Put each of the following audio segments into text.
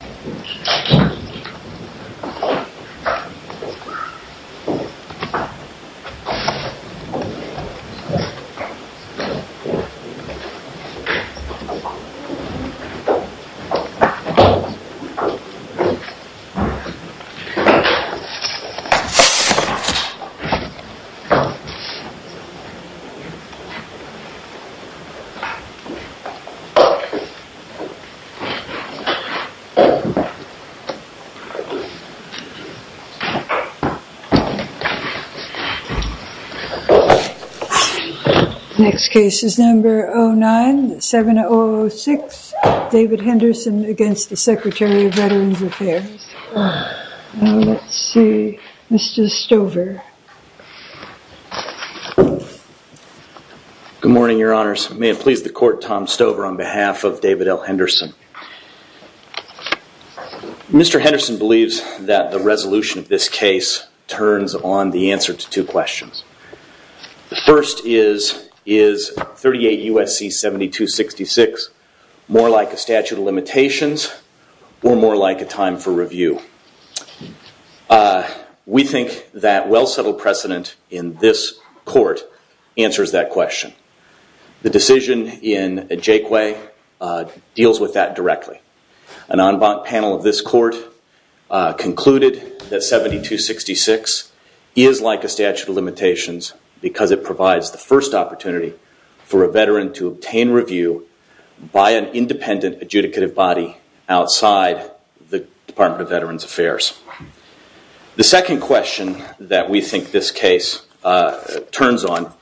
Introduction Spirit Introduction to an on A on a on A on a on A on A on A on A on A on Next case is number 09-7006, David Henderson against the Secretary of Veterans Affairs. Let's see, Mr. Stover. Good morning, your honors. May it please the court, Tom Stover on behalf of David L. Henderson. Mr. Henderson believes that the resolution of this case turns on the answer to two questions. The first is, is 38 U.S.C. 7266 more like a statute of limitations or more like a time for review? We think that well-settled precedent in this court answers that question. The decision in Ajayquay deals with that directly. An en banc panel of this court concluded that 7266 is like a statute of limitations because it provides the first opportunity for a veteran to obtain review by an independent adjudicative body outside the Department of Veterans Affairs. The second question that we think this case turns on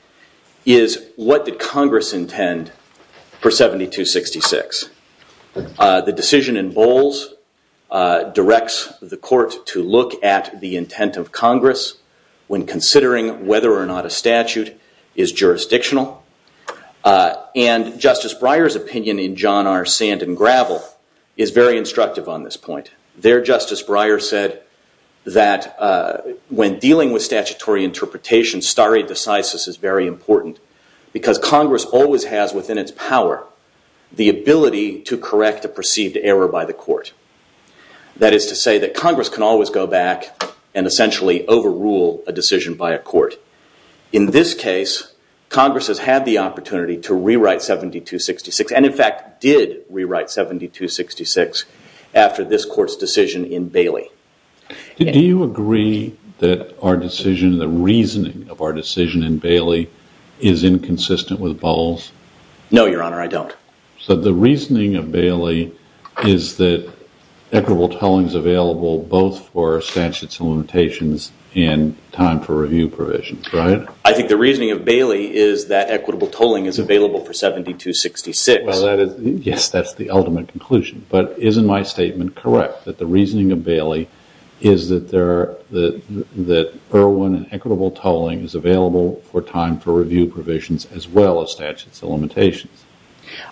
is what did Congress intend for 7266? The decision in Bowles directs the court to look at the intent of Congress when considering whether or not a statute is jurisdictional. And Justice Breyer's opinion in John R. Sand and Gravel is very instructive on this point. There Justice Breyer said that when dealing with statutory interpretation stare decisis is very important because Congress always has within its power the ability to correct a perceived error by the court. That is to say that Congress can always go back and essentially overrule a decision by a court. In this case, Congress has had the opportunity to rewrite 7266 and in fact did rewrite 7266 after this court's decision in Bailey. Do you agree that our decision, the reasoning of our decision in Bailey is inconsistent with Bowles? No, your honor, I don't. So the reasoning of Bailey is that equitable tolling is available both for statutes of limitations and time for review provisions, right? I think the reasoning of Bailey is that equitable tolling is available for 7266. Well, yes, that's the ultimate conclusion. But isn't my statement correct that the reasoning of Bailey is that there are that Irwin and equitable tolling is available for time for review provisions as well as statutes of limitations?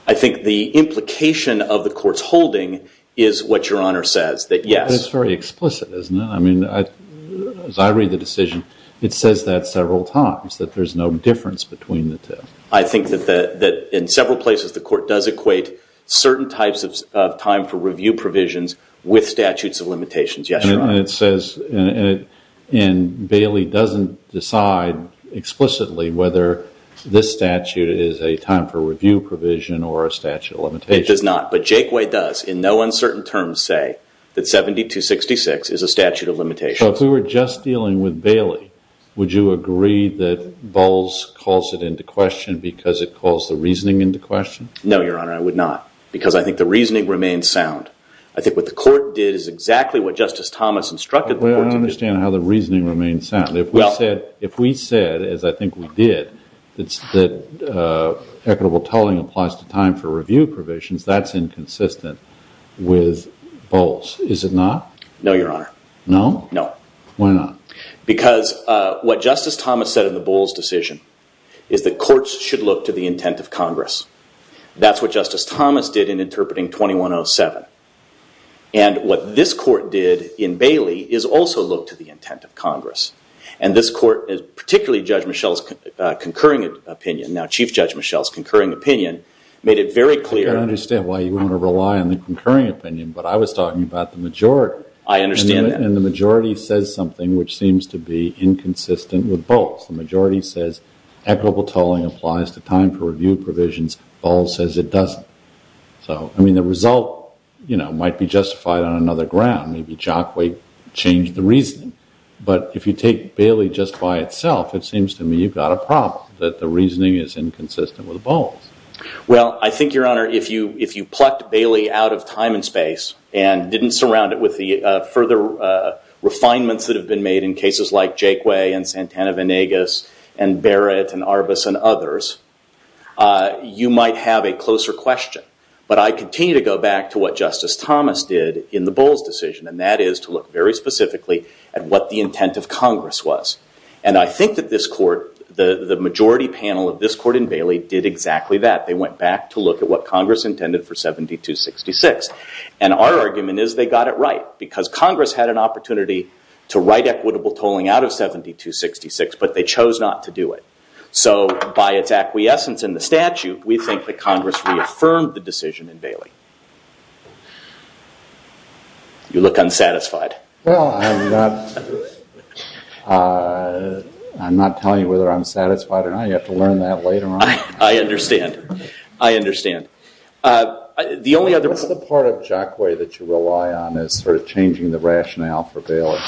I think the implication of the court's holding is what your honor says, that yes. That's very explicit, isn't it? I mean, as I read the decision, it says that several times that there's no difference between the two. I think that in several places, the court does equate certain types of time for review provisions with statutes of limitations. Yes, your honor. And Bailey doesn't decide explicitly whether this statute is a time for review provision or a statute of limitations. It does not, but Jakeway does in no uncertain terms say that 7266 is a statute of limitations. So if we were just dealing with Bailey, would you agree that Bowles calls it into question because it calls the reasoning into question? No, your honor, I would not because I think the reasoning remains sound. I think what the court did is exactly what Justice Thomas instructed. I don't understand how the reasoning remains sound. If we said, as I think we did, that equitable tolling applies to time for review provisions, that's inconsistent with Bowles. Is it not? No, your honor. No? No. Why not? Because what Justice Thomas said in the Bowles decision is that courts should look to the intent of Congress. That's what Justice Thomas did in interpreting 2107. And what this court did in Bailey is also look to the intent of Congress. And this court, particularly Judge Michelle's concurring opinion, now Chief Judge Michelle's concurring opinion, made it very clear. I don't understand why you want to rely on the concurring opinion, but I was talking about the majority. I understand that. And the majority says something which seems to be inconsistent with Bowles. The majority says equitable tolling applies to time for review provisions. Bowles says it doesn't. So I mean, the result might be justified on another ground. Maybe Jockway changed the reasoning. But if you take Bailey just by itself, it seems to me you've got a problem, that the reasoning is inconsistent with and didn't surround it with the further refinements that have been made in cases like Jockway and Santana-Venegas and Barrett and Arbus and others, you might have a closer question. But I continue to go back to what Justice Thomas did in the Bowles decision. And that is to look very specifically at what the intent of Congress was. And I think that this court, the majority panel of this court in Bailey did exactly that. They went back to look at what Congress intended for 7266. And our argument is they got it right. Because Congress had an opportunity to write equitable tolling out of 7266, but they chose not to do it. So by its acquiescence in the statute, we think that Congress reaffirmed the decision in Bailey. You look unsatisfied. I'm not telling you whether I'm satisfied or not. You have to learn that later on. I understand. I understand. What's the part of Jockway that you rely on as changing the rationale for Bailey?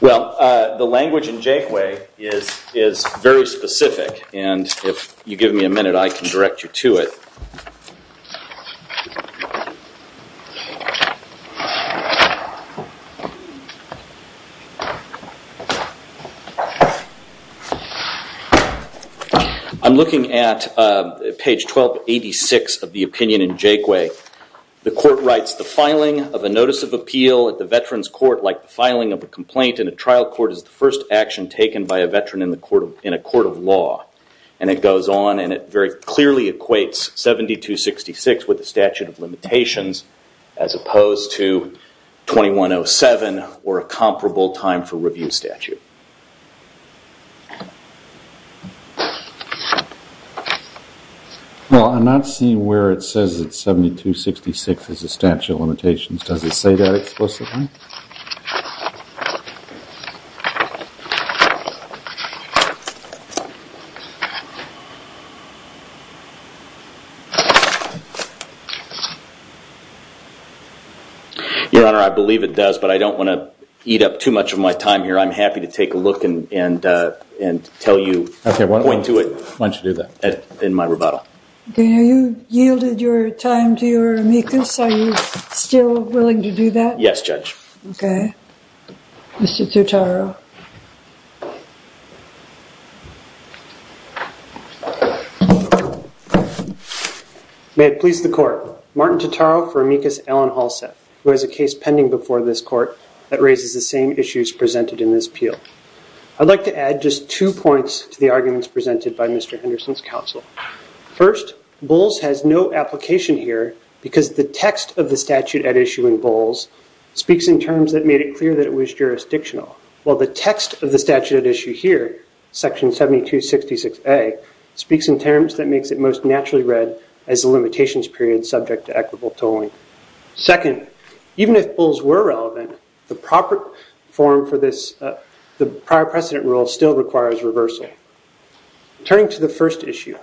Well, the language in Jockway is very specific. And if you give me a minute, I can direct you to it. I'm looking at page 1286 of the opinion in Jockway. The court writes, the filing of a notice of appeal at the veterans court like the filing of a complaint in a trial court is the first action taken by a veteran in a court of law. And it goes on and it very clearly equates 7266 with the statute of limitations as opposed to 2107 or a comparable time for review statute. Well, I'm not seeing where it says it's 7266 as a statute of limitations. Does it say that explicitly? Your Honor, I believe it does, but I don't want to eat up too much of my time here. I'm happy to take a look and tell you, point to it in my rebuttal. Okay. You yielded your time to your amicus. Are you still willing to do that? Yes, Judge. Okay. Mr. Totaro. May it please the court, Martin Totaro for amicus Alan Halstead, who has a case pending before this court that raises the same issues presented in this appeal. I'd like to add just two points to the arguments presented by Mr. Henderson's counsel. First, Bulls has no application here because the text of the statute at issue in Bulls speaks in terms that made it clear that it was jurisdictional, while the text of the statute at issue here, section 7266A, speaks in terms that makes it most naturally read as the limitations period subject to equitable tolling. Second, even if Bulls were relevant, the proper form for this, the prior precedent rule still requires reversal. Turning to the first issue,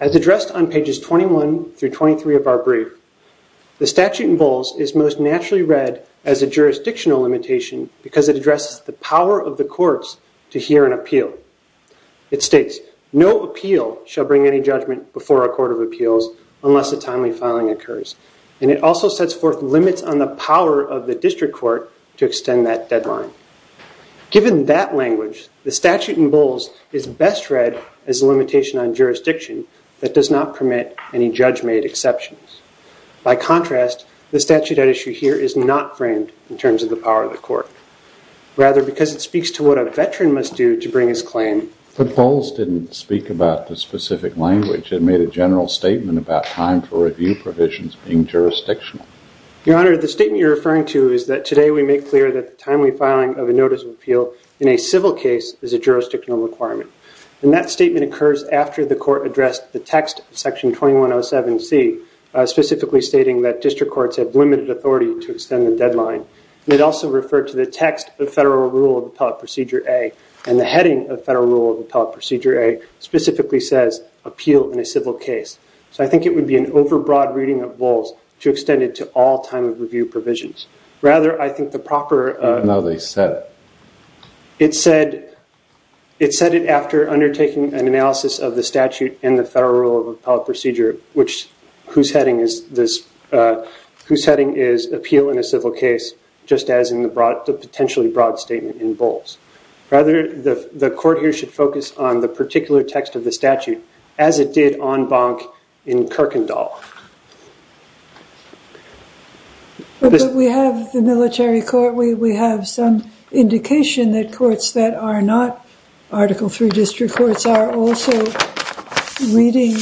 as addressed on pages 21 through 23 of our brief, the statute in Bulls is most naturally read as a jurisdictional limitation because it addresses the power of the courts to hear an appeal. It states, no appeal shall bring any judgment before a court of appeals unless a timely filing occurs. It also sets forth limits on the power of best read as a limitation on jurisdiction that does not permit any judge-made exceptions. By contrast, the statute at issue here is not framed in terms of the power of the court. Rather, because it speaks to what a veteran must do to bring his claim. But Bulls didn't speak about the specific language. It made a general statement about time for review provisions being jurisdictional. Your Honor, the statement you're referring to is that today we make clear that the timely filing of a notice of appeal in a civil case is a jurisdictional requirement. And that statement occurs after the court addressed the text of section 2107C, specifically stating that district courts have limited authority to extend the deadline. And it also referred to the text of federal rule of appellate procedure A. And the heading of federal rule of appellate procedure A specifically says, appeal in a civil case. So I think it would be an overbroad reading of Bulls to extend it to all time of review provisions. Rather, I think the proper... No, they said it. It said it after undertaking an analysis of the statute and the federal rule of appellate procedure, whose heading is appeal in a civil case, just as in the potentially broad statement in Bulls. Rather, the court here should focus on the particular text of the statute as it did on the military court. We have some indication that courts that are not Article III district courts are also reading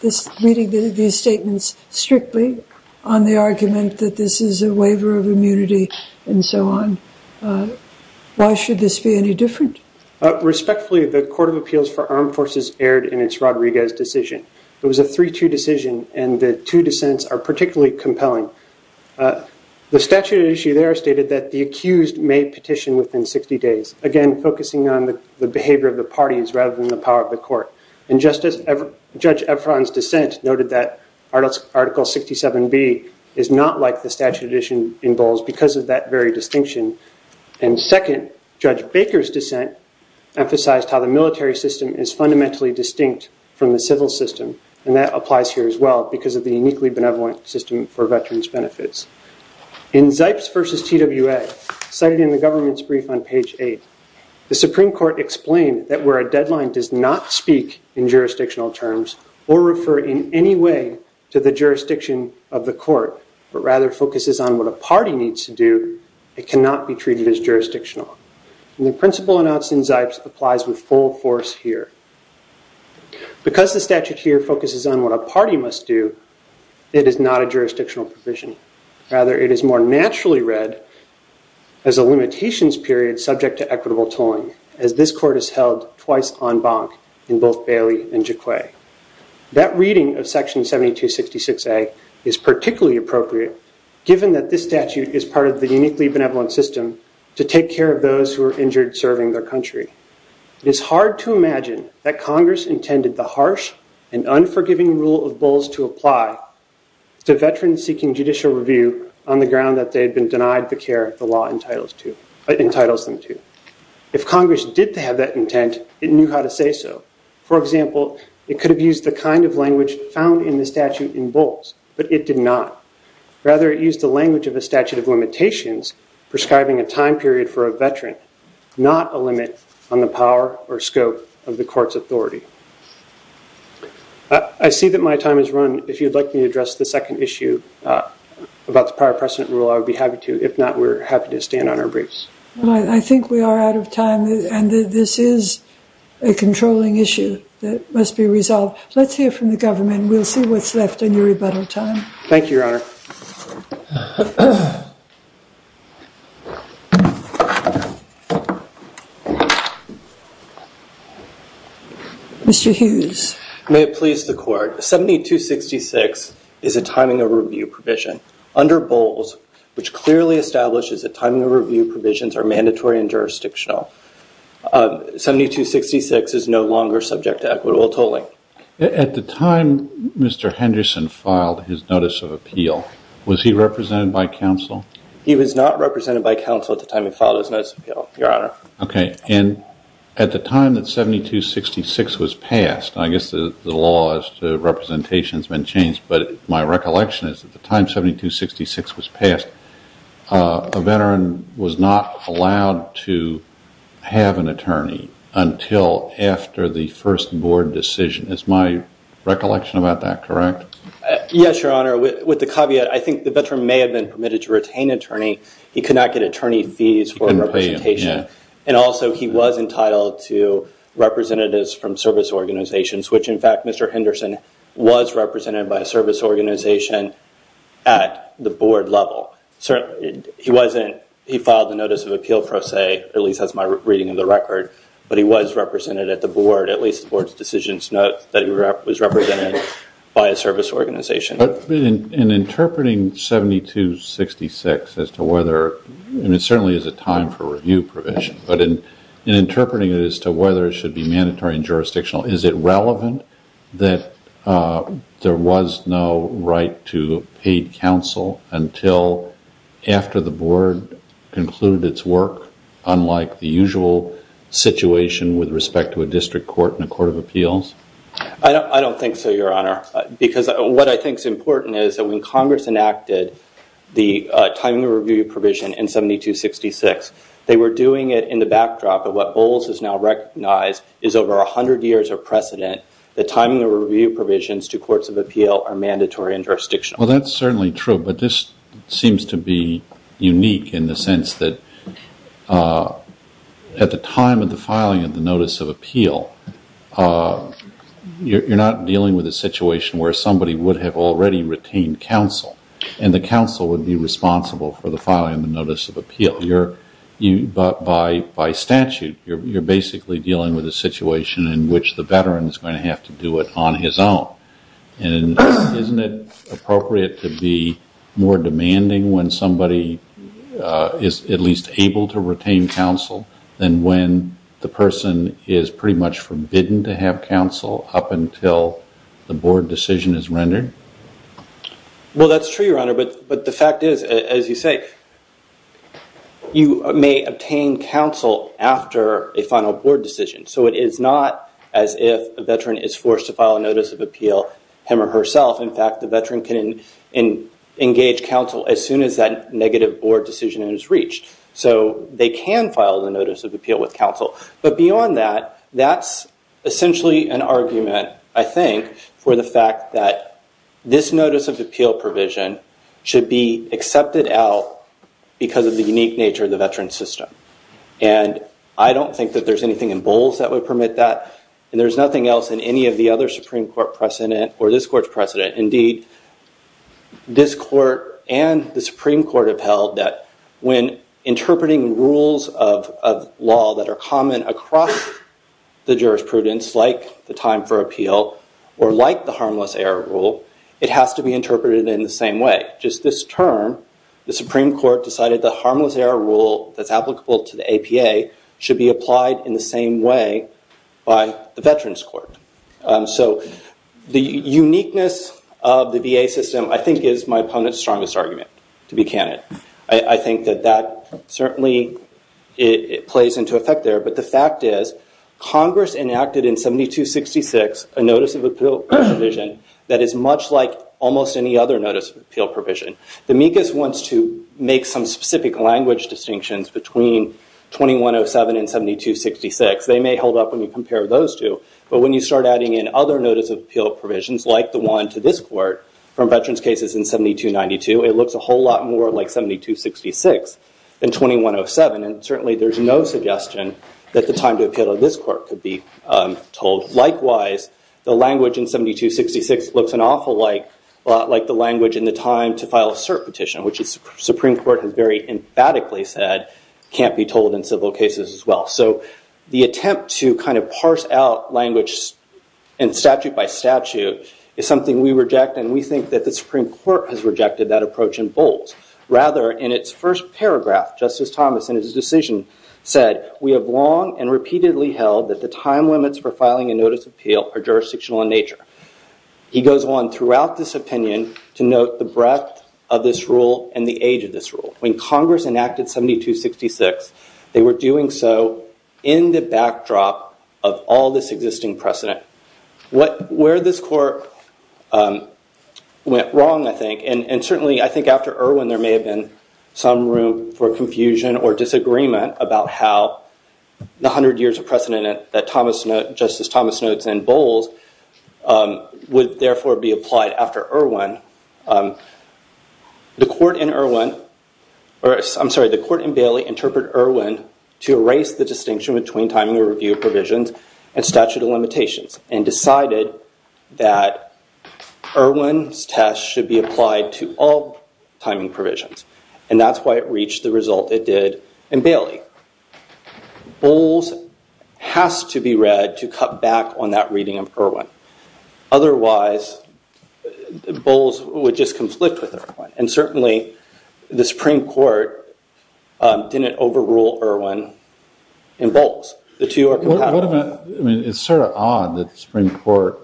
these statements strictly on the argument that this is a waiver of immunity and so on. Why should this be any different? Respectfully, the Court of Appeals for Armed Forces erred in its Rodriguez decision. It was a 3-2 decision, and the two dissents are particularly compelling. The statute issue there stated that the accused may petition within 60 days, again, focusing on the behavior of the parties rather than the power of the court. And just as Judge Ephron's dissent noted that Article 67B is not like the statute edition in Bulls because of that very distinction, and second, Judge Baker's dissent emphasized how the military system is fundamentally distinct from the civil system, and that applies here as well because of the uniquely benevolent system for veterans' benefits. In Zipes versus TWA, cited in the government's brief on page 8, the Supreme Court explained that where a deadline does not speak in jurisdictional terms or refer in any way to the jurisdiction of the court, but rather focuses on what a party needs to do, it cannot be treated as jurisdictional. The principle announced in Zipes applies with full force here. Because the statute here focuses on what a party must do, it is not a jurisdictional provision. Rather, it is more naturally read as a limitations period subject to equitable tolling, as this court has held twice en banc in both Bailey and Jaquay. That reading of Section 7266A is particularly appropriate, given that this statute is part of the uniquely benevolent system to take care of those who are injured serving their country. It is hard to imagine that Congress intended the harsh and unforgiving rule of Bulls to apply to veterans seeking judicial review on the ground that they had been denied the care the law entitles them to. If Congress did have that intent, it knew how to say so. For example, it could have used the kind of language found in the statute in Bulls, but it did not. Rather, it used the language of a statute of limitations prescribing a time period for a veteran, not a limit on the power or scope of the court's authority. I see that my time has run. If you would like me to address the second issue about the prior precedent rule, I would be happy to. If not, we're happy to stand on our briefs. I think we are out of time, and this is a controlling issue that must be resolved. Let's hear from the government. We'll see what's left in your rebuttal time. Thank you, Your Honor. Mr. Hughes. May it please the Court. 7266 is a timing of review provision. Under Bulls, which clearly establishes that timing of review provisions are mandatory and jurisdictional, 7266 is no longer subject to equitable tolling. At the time Mr. Henderson filed his notice of appeal, was he represented by counsel? He was not represented by counsel at the time he filed his notice of appeal, Your Honor. Okay, and at the time that 7266 was passed, I guess the law as to representation has been changed, but my recollection is at the time 7266 was passed, a veteran was not allowed to have an attorney until after the first board decision. Is my recollection about that correct? Yes, Your Honor. With the caveat, I think the veteran may have been permitted to retain an attorney. He could not get attorney fees for representation. And also, he was entitled to representatives from service organizations, which, in fact, Mr. Henderson was represented by a service organization at the board level. He filed a notice of appeal pro se, at least that's my reading of the record, but he was represented at the board, at least the board's decisions note that he was represented by a service organization. In interpreting 7266 as to whether, and it certainly is a time for review provision, but in interpreting it as to whether it should be mandatory and jurisdictional, is it relevant that there was no right to paid counsel until after the board concluded its work, unlike the usual situation with respect to a district court and a court of appeals? I don't think so, Your Honor, because what I think is important is that when Congress enacted the timing of review provision in 7266, they were doing it in the backdrop of what Bowles has now recognized is over 100 years of precedent, the timing of review provisions to courts of appeal are mandatory and jurisdictional. Well, that's certainly true, but this seems to be unique in the sense that at the time of the filing of the notice of appeal, you're not dealing with a situation where somebody would have already retained counsel and the counsel would be responsible for the filing of the notice of appeal. By statute, you're basically dealing with a situation in which the veteran is going to have to do it on his own and isn't it appropriate to be more demanding when somebody is at least able to retain counsel than when the person is pretty much forbidden to have counsel up until the board decision is rendered? Well, that's true, Your Honor, but the fact is, as you say, you may obtain counsel after a final board decision. So it is not as if a veteran is forced to file a notice of appeal him or herself. In fact, the veteran can engage counsel as soon as that negative board decision is reached. So they can file the notice of appeal with counsel. But beyond that, that's essentially an argument, I think, for the fact that this notice of appeal provision should be accepted out because of the unique nature of the veteran system. And I don't think that there's anything in Bowles that would permit that. And there's nothing else in any of the other Supreme Court precedent or this court's precedent. Indeed, this court and the Supreme Court have held that when interpreting rules of law that are common across the jurisprudence, like the time for appeal or like the harmless error rule, it has to be interpreted in the same way. Just this term, the Supreme Court decided the harmless error rule that's applicable to the APA should be applied in the same way by the Veterans Court. So the uniqueness of the VA system, I think, is my opponent's strongest argument, to be candid. I think that that certainly plays into effect there. But the fact is, Congress enacted in 7266 a notice of appeal provision that is much like almost any other notice of appeal provision. The MECAS wants to make some specific language distinctions between 2107 and 7266. They may hold up when you compare those two. But when you start adding in other notice of appeal provisions, like the one to this court, from veterans cases in 7292, it looks a whole lot more like 7266 than 2107. And certainly, there's no suggestion that the time to appeal to this court could be told. Likewise, the language in 7266 looks an awful lot like the language in the time to file a cert petition, which the Supreme Court has very emphatically said can't be told in civil cases as well. So the attempt to kind of parse out language and statute by statute is something we reject. And we think that the Supreme Court has rejected that approach in bold. Rather, in its first paragraph, Justice Thomas, in his decision, said, we have long and repeatedly held that the time limits for filing a notice of appeal are jurisdictional in nature. He goes on throughout this opinion to note the breadth of this rule and the age of this rule. When Congress enacted 7266, they were doing so in the backdrop of all this existing precedent. Where this court went wrong, I think. And certainly, I think after Irwin, there may have been some room for confusion or disagreement about how the 100 years of precedent that Justice Thomas notes in bold would therefore be applied after Irwin. The court in Irwin, or I'm sorry, the court in Bailey interpreted Irwin to erase the distinction between time to review provisions and statute of Irwin's test should be applied to all timing provisions. And that's why it reached the result it did in Bailey. Bowles has to be read to cut back on that reading of Irwin. Otherwise, Bowles would just conflict with Irwin. And certainly, the Supreme Court didn't overrule Irwin in Bowles. The two are compatible. I mean, it's sort of odd that the Supreme Court,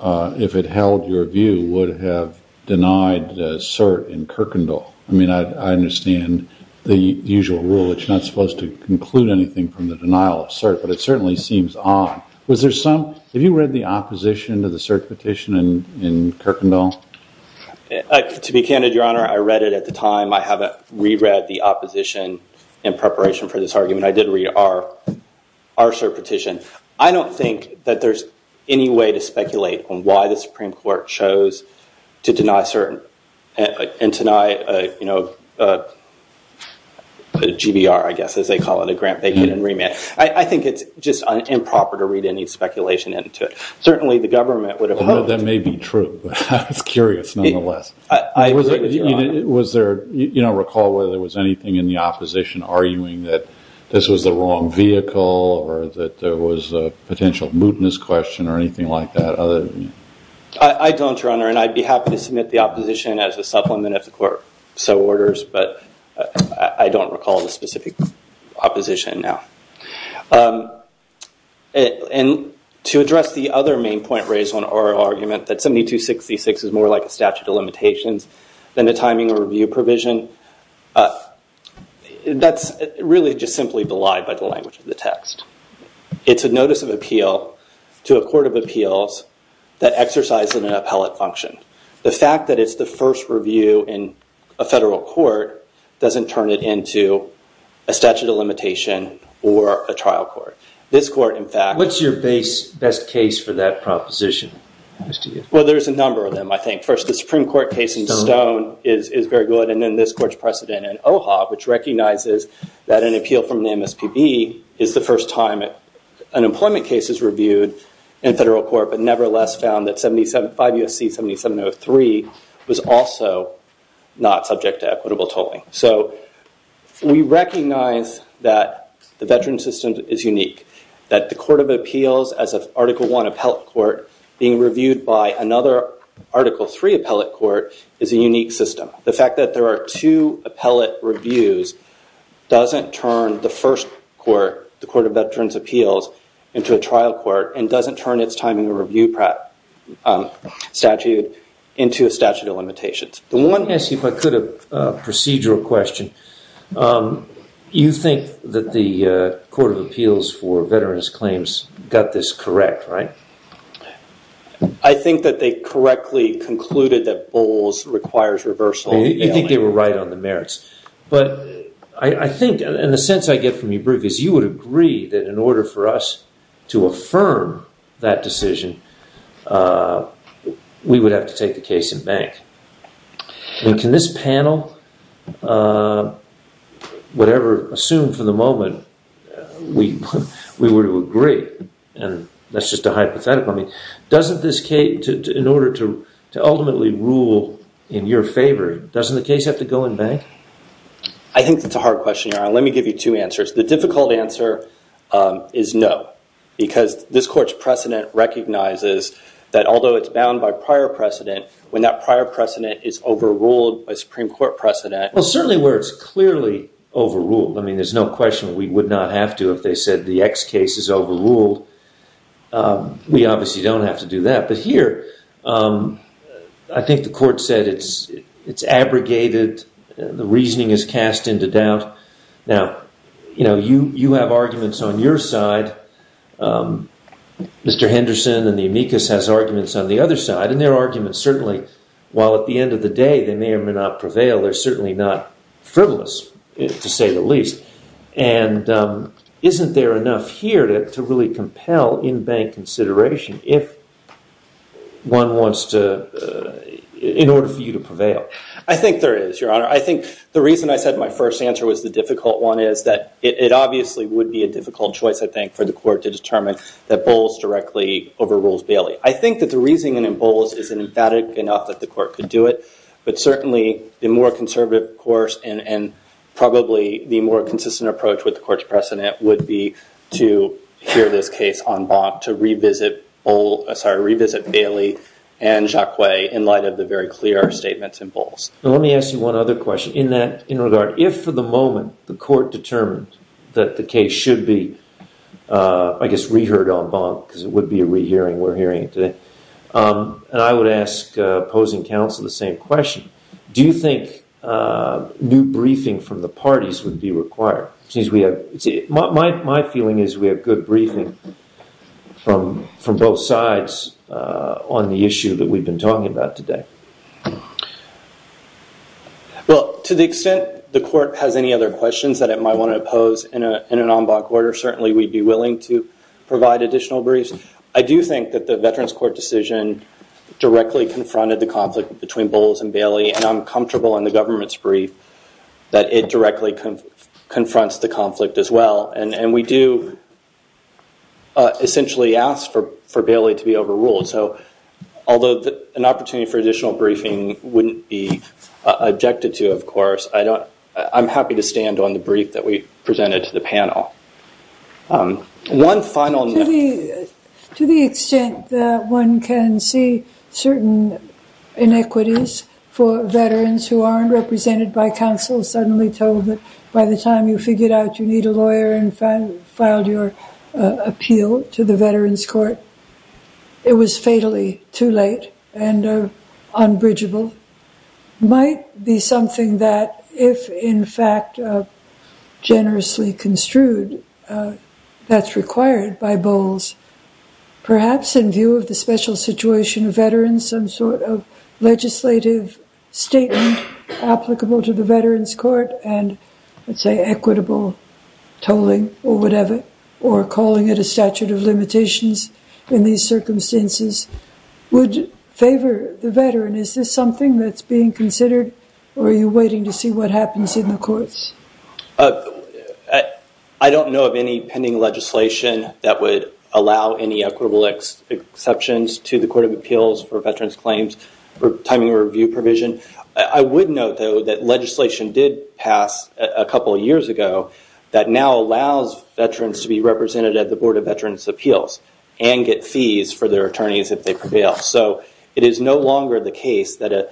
if it held your view, would have denied cert in Kirkendall. I mean, I understand the usual rule. It's not supposed to conclude anything from the denial of cert, but it certainly seems odd. Was there some, have you read the opposition to the cert petition in Kirkendall? To be candid, your honor, I read it at the time. I haven't reread the opposition in preparation for this on why the Supreme Court chose to deny cert and to deny a GBR, I guess, as they call it, a grant-bacon remand. I think it's just improper to read any speculation into it. Certainly, the government would have hoped- That may be true. I was curious, nonetheless. Was there, recall whether there was anything in the opposition arguing that this was the wrong vehicle or that there was a potential mootness question or anything like that? I don't, your honor, and I'd be happy to submit the opposition as a supplement if the court so orders, but I don't recall the specific opposition now. To address the other main point raised on our argument that 7266 is more like a statute of limitations than a timing or review provision, that's really just simply belied by the language of the text. It's a notice of appeal to a court of appeals that exercises an appellate function. The fact that it's the first review in a federal court doesn't turn it into a statute of limitation or a trial court. This court, in fact- What's your best case for that proposition? Well, there's a number of them, I think. First, the Supreme Court case in Stone is very good, and then this court's precedent in OHA, which in federal court, but nevertheless found that 5 U.S.C. 7703 was also not subject to equitable tolling. We recognize that the veteran system is unique, that the court of appeals as of Article 1 appellate court being reviewed by another Article 3 appellate court is a unique system. The fact that there are two appellate reviews doesn't turn the first court, the court of doesn't turn its timing or review statute into a statute of limitations. I want to ask you, if I could, a procedural question. You think that the court of appeals for veterans' claims got this correct, right? I think that they correctly concluded that BOLs requires reversal. You think they were right on the merits, but I think, in the sense I get from your brief, you would agree that in order for us to affirm that decision, we would have to take the case in bank. Can this panel assume for the moment we were to agree? That's just a hypothetical. In order to ultimately rule in your favor, doesn't the case have to go in bank? I think that's a hard question. Let me give you two answers. The difficult answer is no, because this court's precedent recognizes that although it's bound by prior precedent, when that prior precedent is overruled by Supreme Court precedent- Well, certainly where it's clearly overruled. I mean, there's no question we would not have to if they said the X case is overruled. We obviously don't have to do that. But here, I think the court said it's abrogated, the reasoning is cast into doubt. Now, you have arguments on your side. Mr. Henderson and the amicus has arguments on the other side, and their arguments certainly, while at the end of the day they may or may not prevail, they're certainly not frivolous, to say the least. And isn't there enough here to really to, in order for you to prevail? I think there is, Your Honor. I think the reason I said my first answer was the difficult one is that it obviously would be a difficult choice, I think, for the court to determine that Bowles directly overrules Bailey. I think that the reasoning in Bowles is emphatic enough that the court could do it, but certainly the more conservative course and probably the more consistent approach with the and Jacques Way in light of the very clear statements in Bowles. Let me ask you one other question. In that regard, if for the moment the court determined that the case should be, I guess, reheard en banc, because it would be a rehearing, we're hearing it today, and I would ask opposing counsel the same question, do you think new briefing from the parties would be required? My feeling is we have good briefing from both sides on the issue that we've been talking about today. Well, to the extent the court has any other questions that it might want to pose in an en banc order, certainly we'd be willing to provide additional briefs. I do think that the Veterans Court decision directly confronted the conflict between Bowles and Bailey, and I'm comfortable in the government's brief that it directly confronts the conflict as well. And we do essentially ask for Bailey to be overruled. So, although an opportunity for additional briefing wouldn't be objected to, of course, I'm happy to stand on the brief that we presented to the panel. One final... To the extent that one can see certain inequities for veterans who aren't represented by counsel suddenly told that by the time you need a lawyer and filed your appeal to the Veterans Court, it was fatally too late and unbridgeable, might be something that, if in fact generously construed, that's required by Bowles. Perhaps in view of the special situation of veterans, some sort of legislative statement applicable to the Veterans Court and, let's say, equitable tolling or whatever, or calling it a statute of limitations in these circumstances would favor the veteran. Is this something that's being considered, or are you waiting to see what happens in the courts? I don't know of any pending legislation that would allow any equitable exceptions to the that legislation did pass a couple of years ago that now allows veterans to be represented at the Board of Veterans' Appeals and get fees for their attorneys if they prevail. So, it is no longer the case that a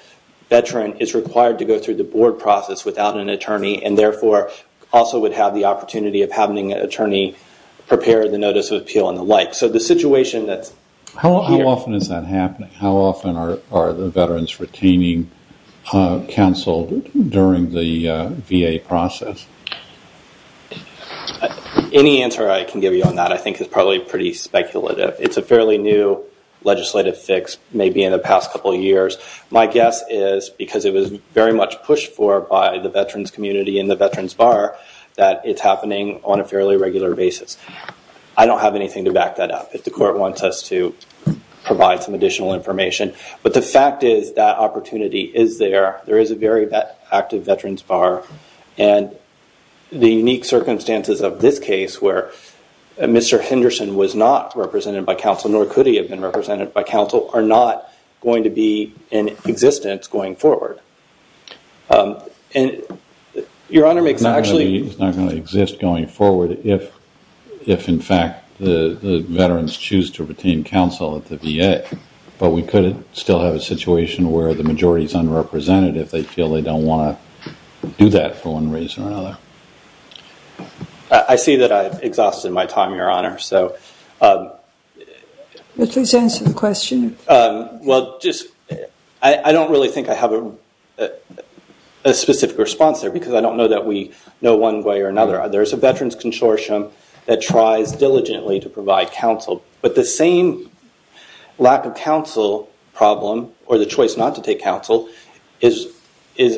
veteran is required to go through the board process without an attorney and, therefore, also would have the opportunity of having an attorney prepare the notice of appeal and the like. So, the situation that's... How often is that happening? How often are during the VA process? Any answer I can give you on that, I think, is probably pretty speculative. It's a fairly new legislative fix, maybe in the past couple of years. My guess is, because it was very much pushed for by the veterans community and the veterans bar, that it's happening on a fairly regular basis. I don't have anything to back that up if the court wants us to provide some additional information. But the fact is that opportunity is there. There is a very active veterans bar. And the unique circumstances of this case where Mr. Henderson was not represented by counsel, nor could he have been represented by counsel, are not going to be in existence going forward. Your Honor, it's actually... It's not going to exist going forward if, in fact, the veterans choose to retain counsel at the VA. But we could still have a situation where the majority is underrepresented if they feel they don't want to do that for one reason or another. I see that I've exhausted my time, Your Honor. So... Please answer the question. Well, I don't really think I have a specific response there because I don't know that we know one way or another. There's a veterans consortium that tries diligently to provide counsel. But the same lack of counsel problem, or the choice not to take counsel, is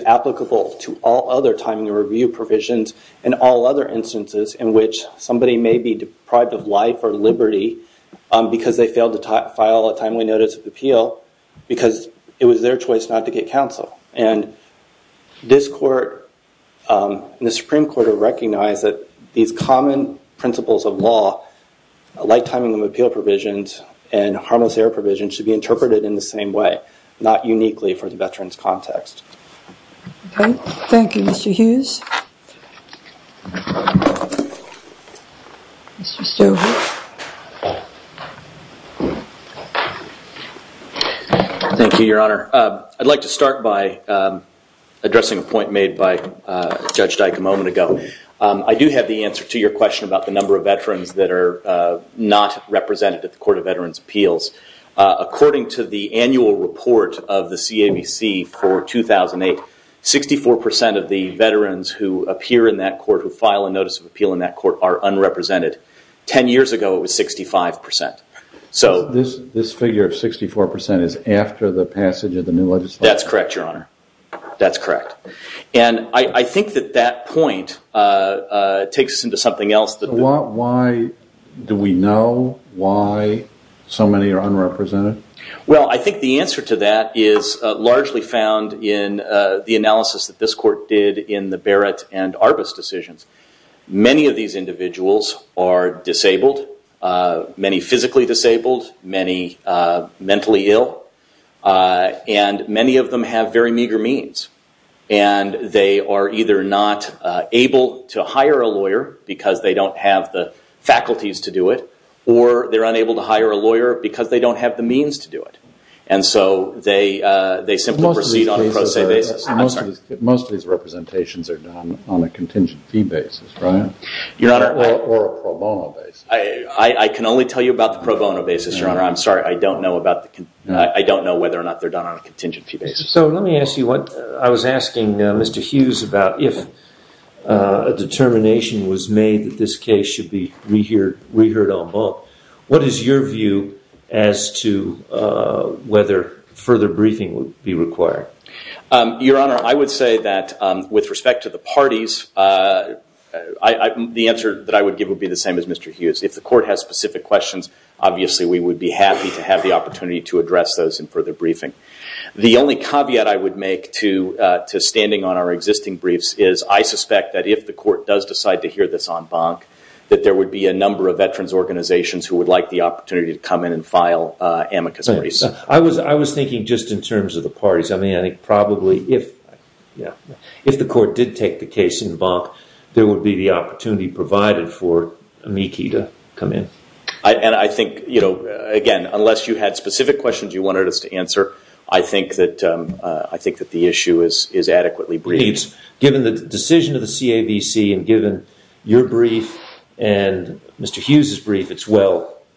applicable to all other timing review provisions and all other instances in which somebody may be deprived of life or liberty because they failed to file a timely notice of appeal because it was their choice not to get counsel. And this court and the Supreme Court have recognized that these common principles of law, like timing of appeal provisions and harmless error provisions, should be interpreted in the same way, not uniquely for the veterans context. Okay. Thank you, Mr. Hughes. Mr. Stover. Thank you, Your Honor. I'd like to start by addressing a point made by Judge Dyke a moment ago. I do have the answer to your question about the number of veterans that are not represented at the Court of Veterans' Appeals. According to the annual report of the CAVC for 2008, 64% of the veterans who appear in that court, who file a notice of appeal in that court, are unrepresented. 10 years ago, it was 65%. This figure of 64% is after the passage of the new legislation? That's correct, Your Honor. That's correct. And I think that that point takes us into something else. Why do we know why so many are unrepresented? Well, I think the answer to that is largely found in the analysis that this court did in the Barrett and Arbus decisions. Many of these individuals are disabled, many physically disabled, many mentally ill, and many of them have very meager means. And they are either not able to hire a lawyer because they don't have the faculties to do it, or they're unable to hire a lawyer because they don't have the means to do it. And so they simply proceed on a pro se basis. Most of these representations are done on a contingent fee basis, right? Or a pro bono basis. I can only tell you about the pro bono basis, Your Honor. I'm sorry. I don't know whether or not they're done on a contingent fee basis. So let me ask you what I was asking Mr. Hughes about. If a determination was made that this case should be reheard en banc, what is your view as to whether further briefing would be required? Your Honor, I would say that with respect to the parties, the answer that I would give would be the same as Mr. Hughes. If the court has specific questions, obviously we would be happy to have the opportunity to address those in further briefing. The only caveat I would make to standing on our existing briefs is I suspect that if the court does decide to hear this en banc, that there would be a number of veterans organizations who would like the opportunity to come in and file amicus mori. I was thinking just in terms of the parties. I mean, I think probably if the court did take the case en banc, there would be the opportunity provided for amici to come in. And I think, you know, again, unless you had specific questions you wanted us to answer, I think that the issue is adequately briefed. Given the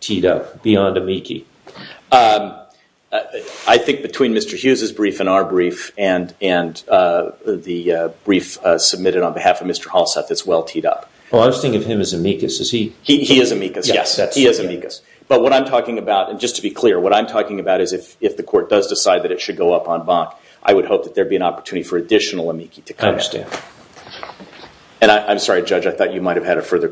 teed up beyond amici. I think between Mr. Hughes' brief and our brief and the brief submitted on behalf of Mr. Halseth, it's well teed up. Oh, I was thinking of him as amicus. Is he? He is amicus. Yes, he is amicus. But what I'm talking about, and just to be clear, what I'm talking about is if the court does decide that it should go up en banc, I would hope that there be an opportunity for additional amici to come in. I understand. And I'm sorry, Judge, I thought you The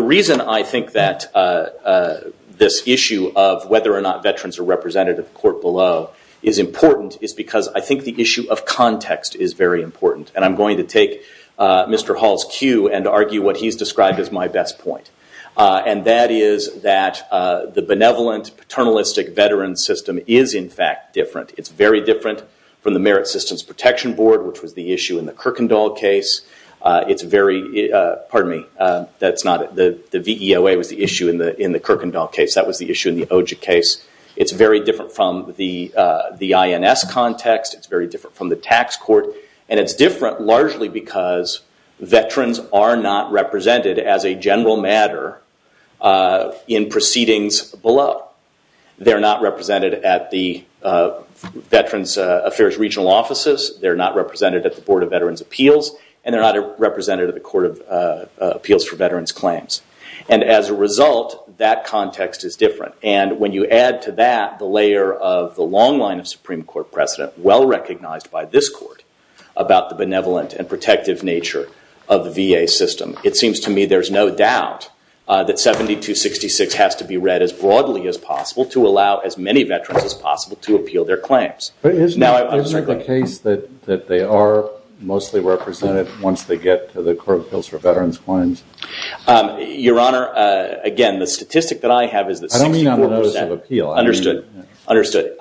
reason I think that this issue of whether or not veterans are represented at the court below is important is because I think the issue of context is very important. And I'm going to take Mr. Hall's cue and argue what he's described as my best point. And that is that the benevolent paternalistic veteran system is, in fact, different. It's very different from the Merit Systems The VEOA was the issue in the Kirkendall case. That was the issue in the OJIC case. It's very different from the INS context. It's very different from the tax court. And it's different largely because veterans are not represented as a general matter in proceedings below. They're not represented at the Veterans Affairs regional offices. They're not represented at the Board of Veterans Appeals. And they're not represented at the Court of Appeals. And as a result, that context is different. And when you add to that the layer of the long line of Supreme Court precedent, well recognized by this court, about the benevolent and protective nature of the VA system, it seems to me there's no doubt that 7266 has to be read as broadly as possible to allow as many veterans as possible to appeal their claims. But isn't it the case that they are mostly represented once they get to the Court of Appeals for veterans claims? Your Honor, again, the statistic that I have is that 64%- I don't mean on the notice of appeal. I mean- Understood.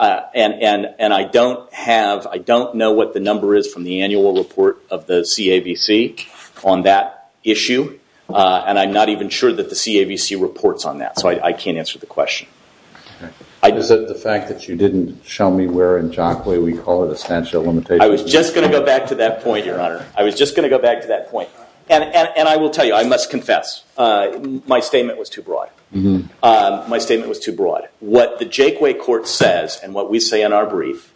And I don't have, I don't know what the number is from the annual report of the CAVC on that issue. And I'm not even sure that the CAVC reports on that. So I can't answer the question. Is it the fact that you didn't show me where in Jockway we call it a stanchial limitation? I was just going to go back to that point, Your Honor. I was just going to go back to that point. And I will tell you, I must confess, my statement was too broad. My statement was too broad. What the Jockway Court says, and what we say in our brief,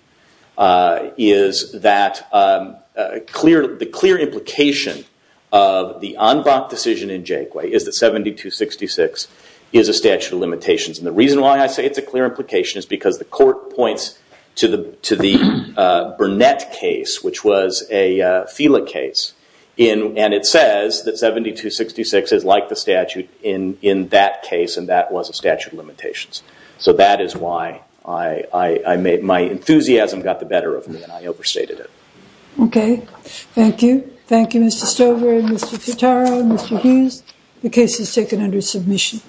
is that the clear implication of the en banc decision in Jockway is that 7266 is a statute of limitations. And the reason why I say it's a clear implication is because the court points to the Burnett case, which was a FELA case. And it says that 7266 is like the statute in that case, and that was a statute of limitations. So that is why my enthusiasm got the better of me, and I overstated it. Okay. Thank you. Thank you, Mr. Stover and Mr. Futaro and Mr. Hughes. The case is taken under submission.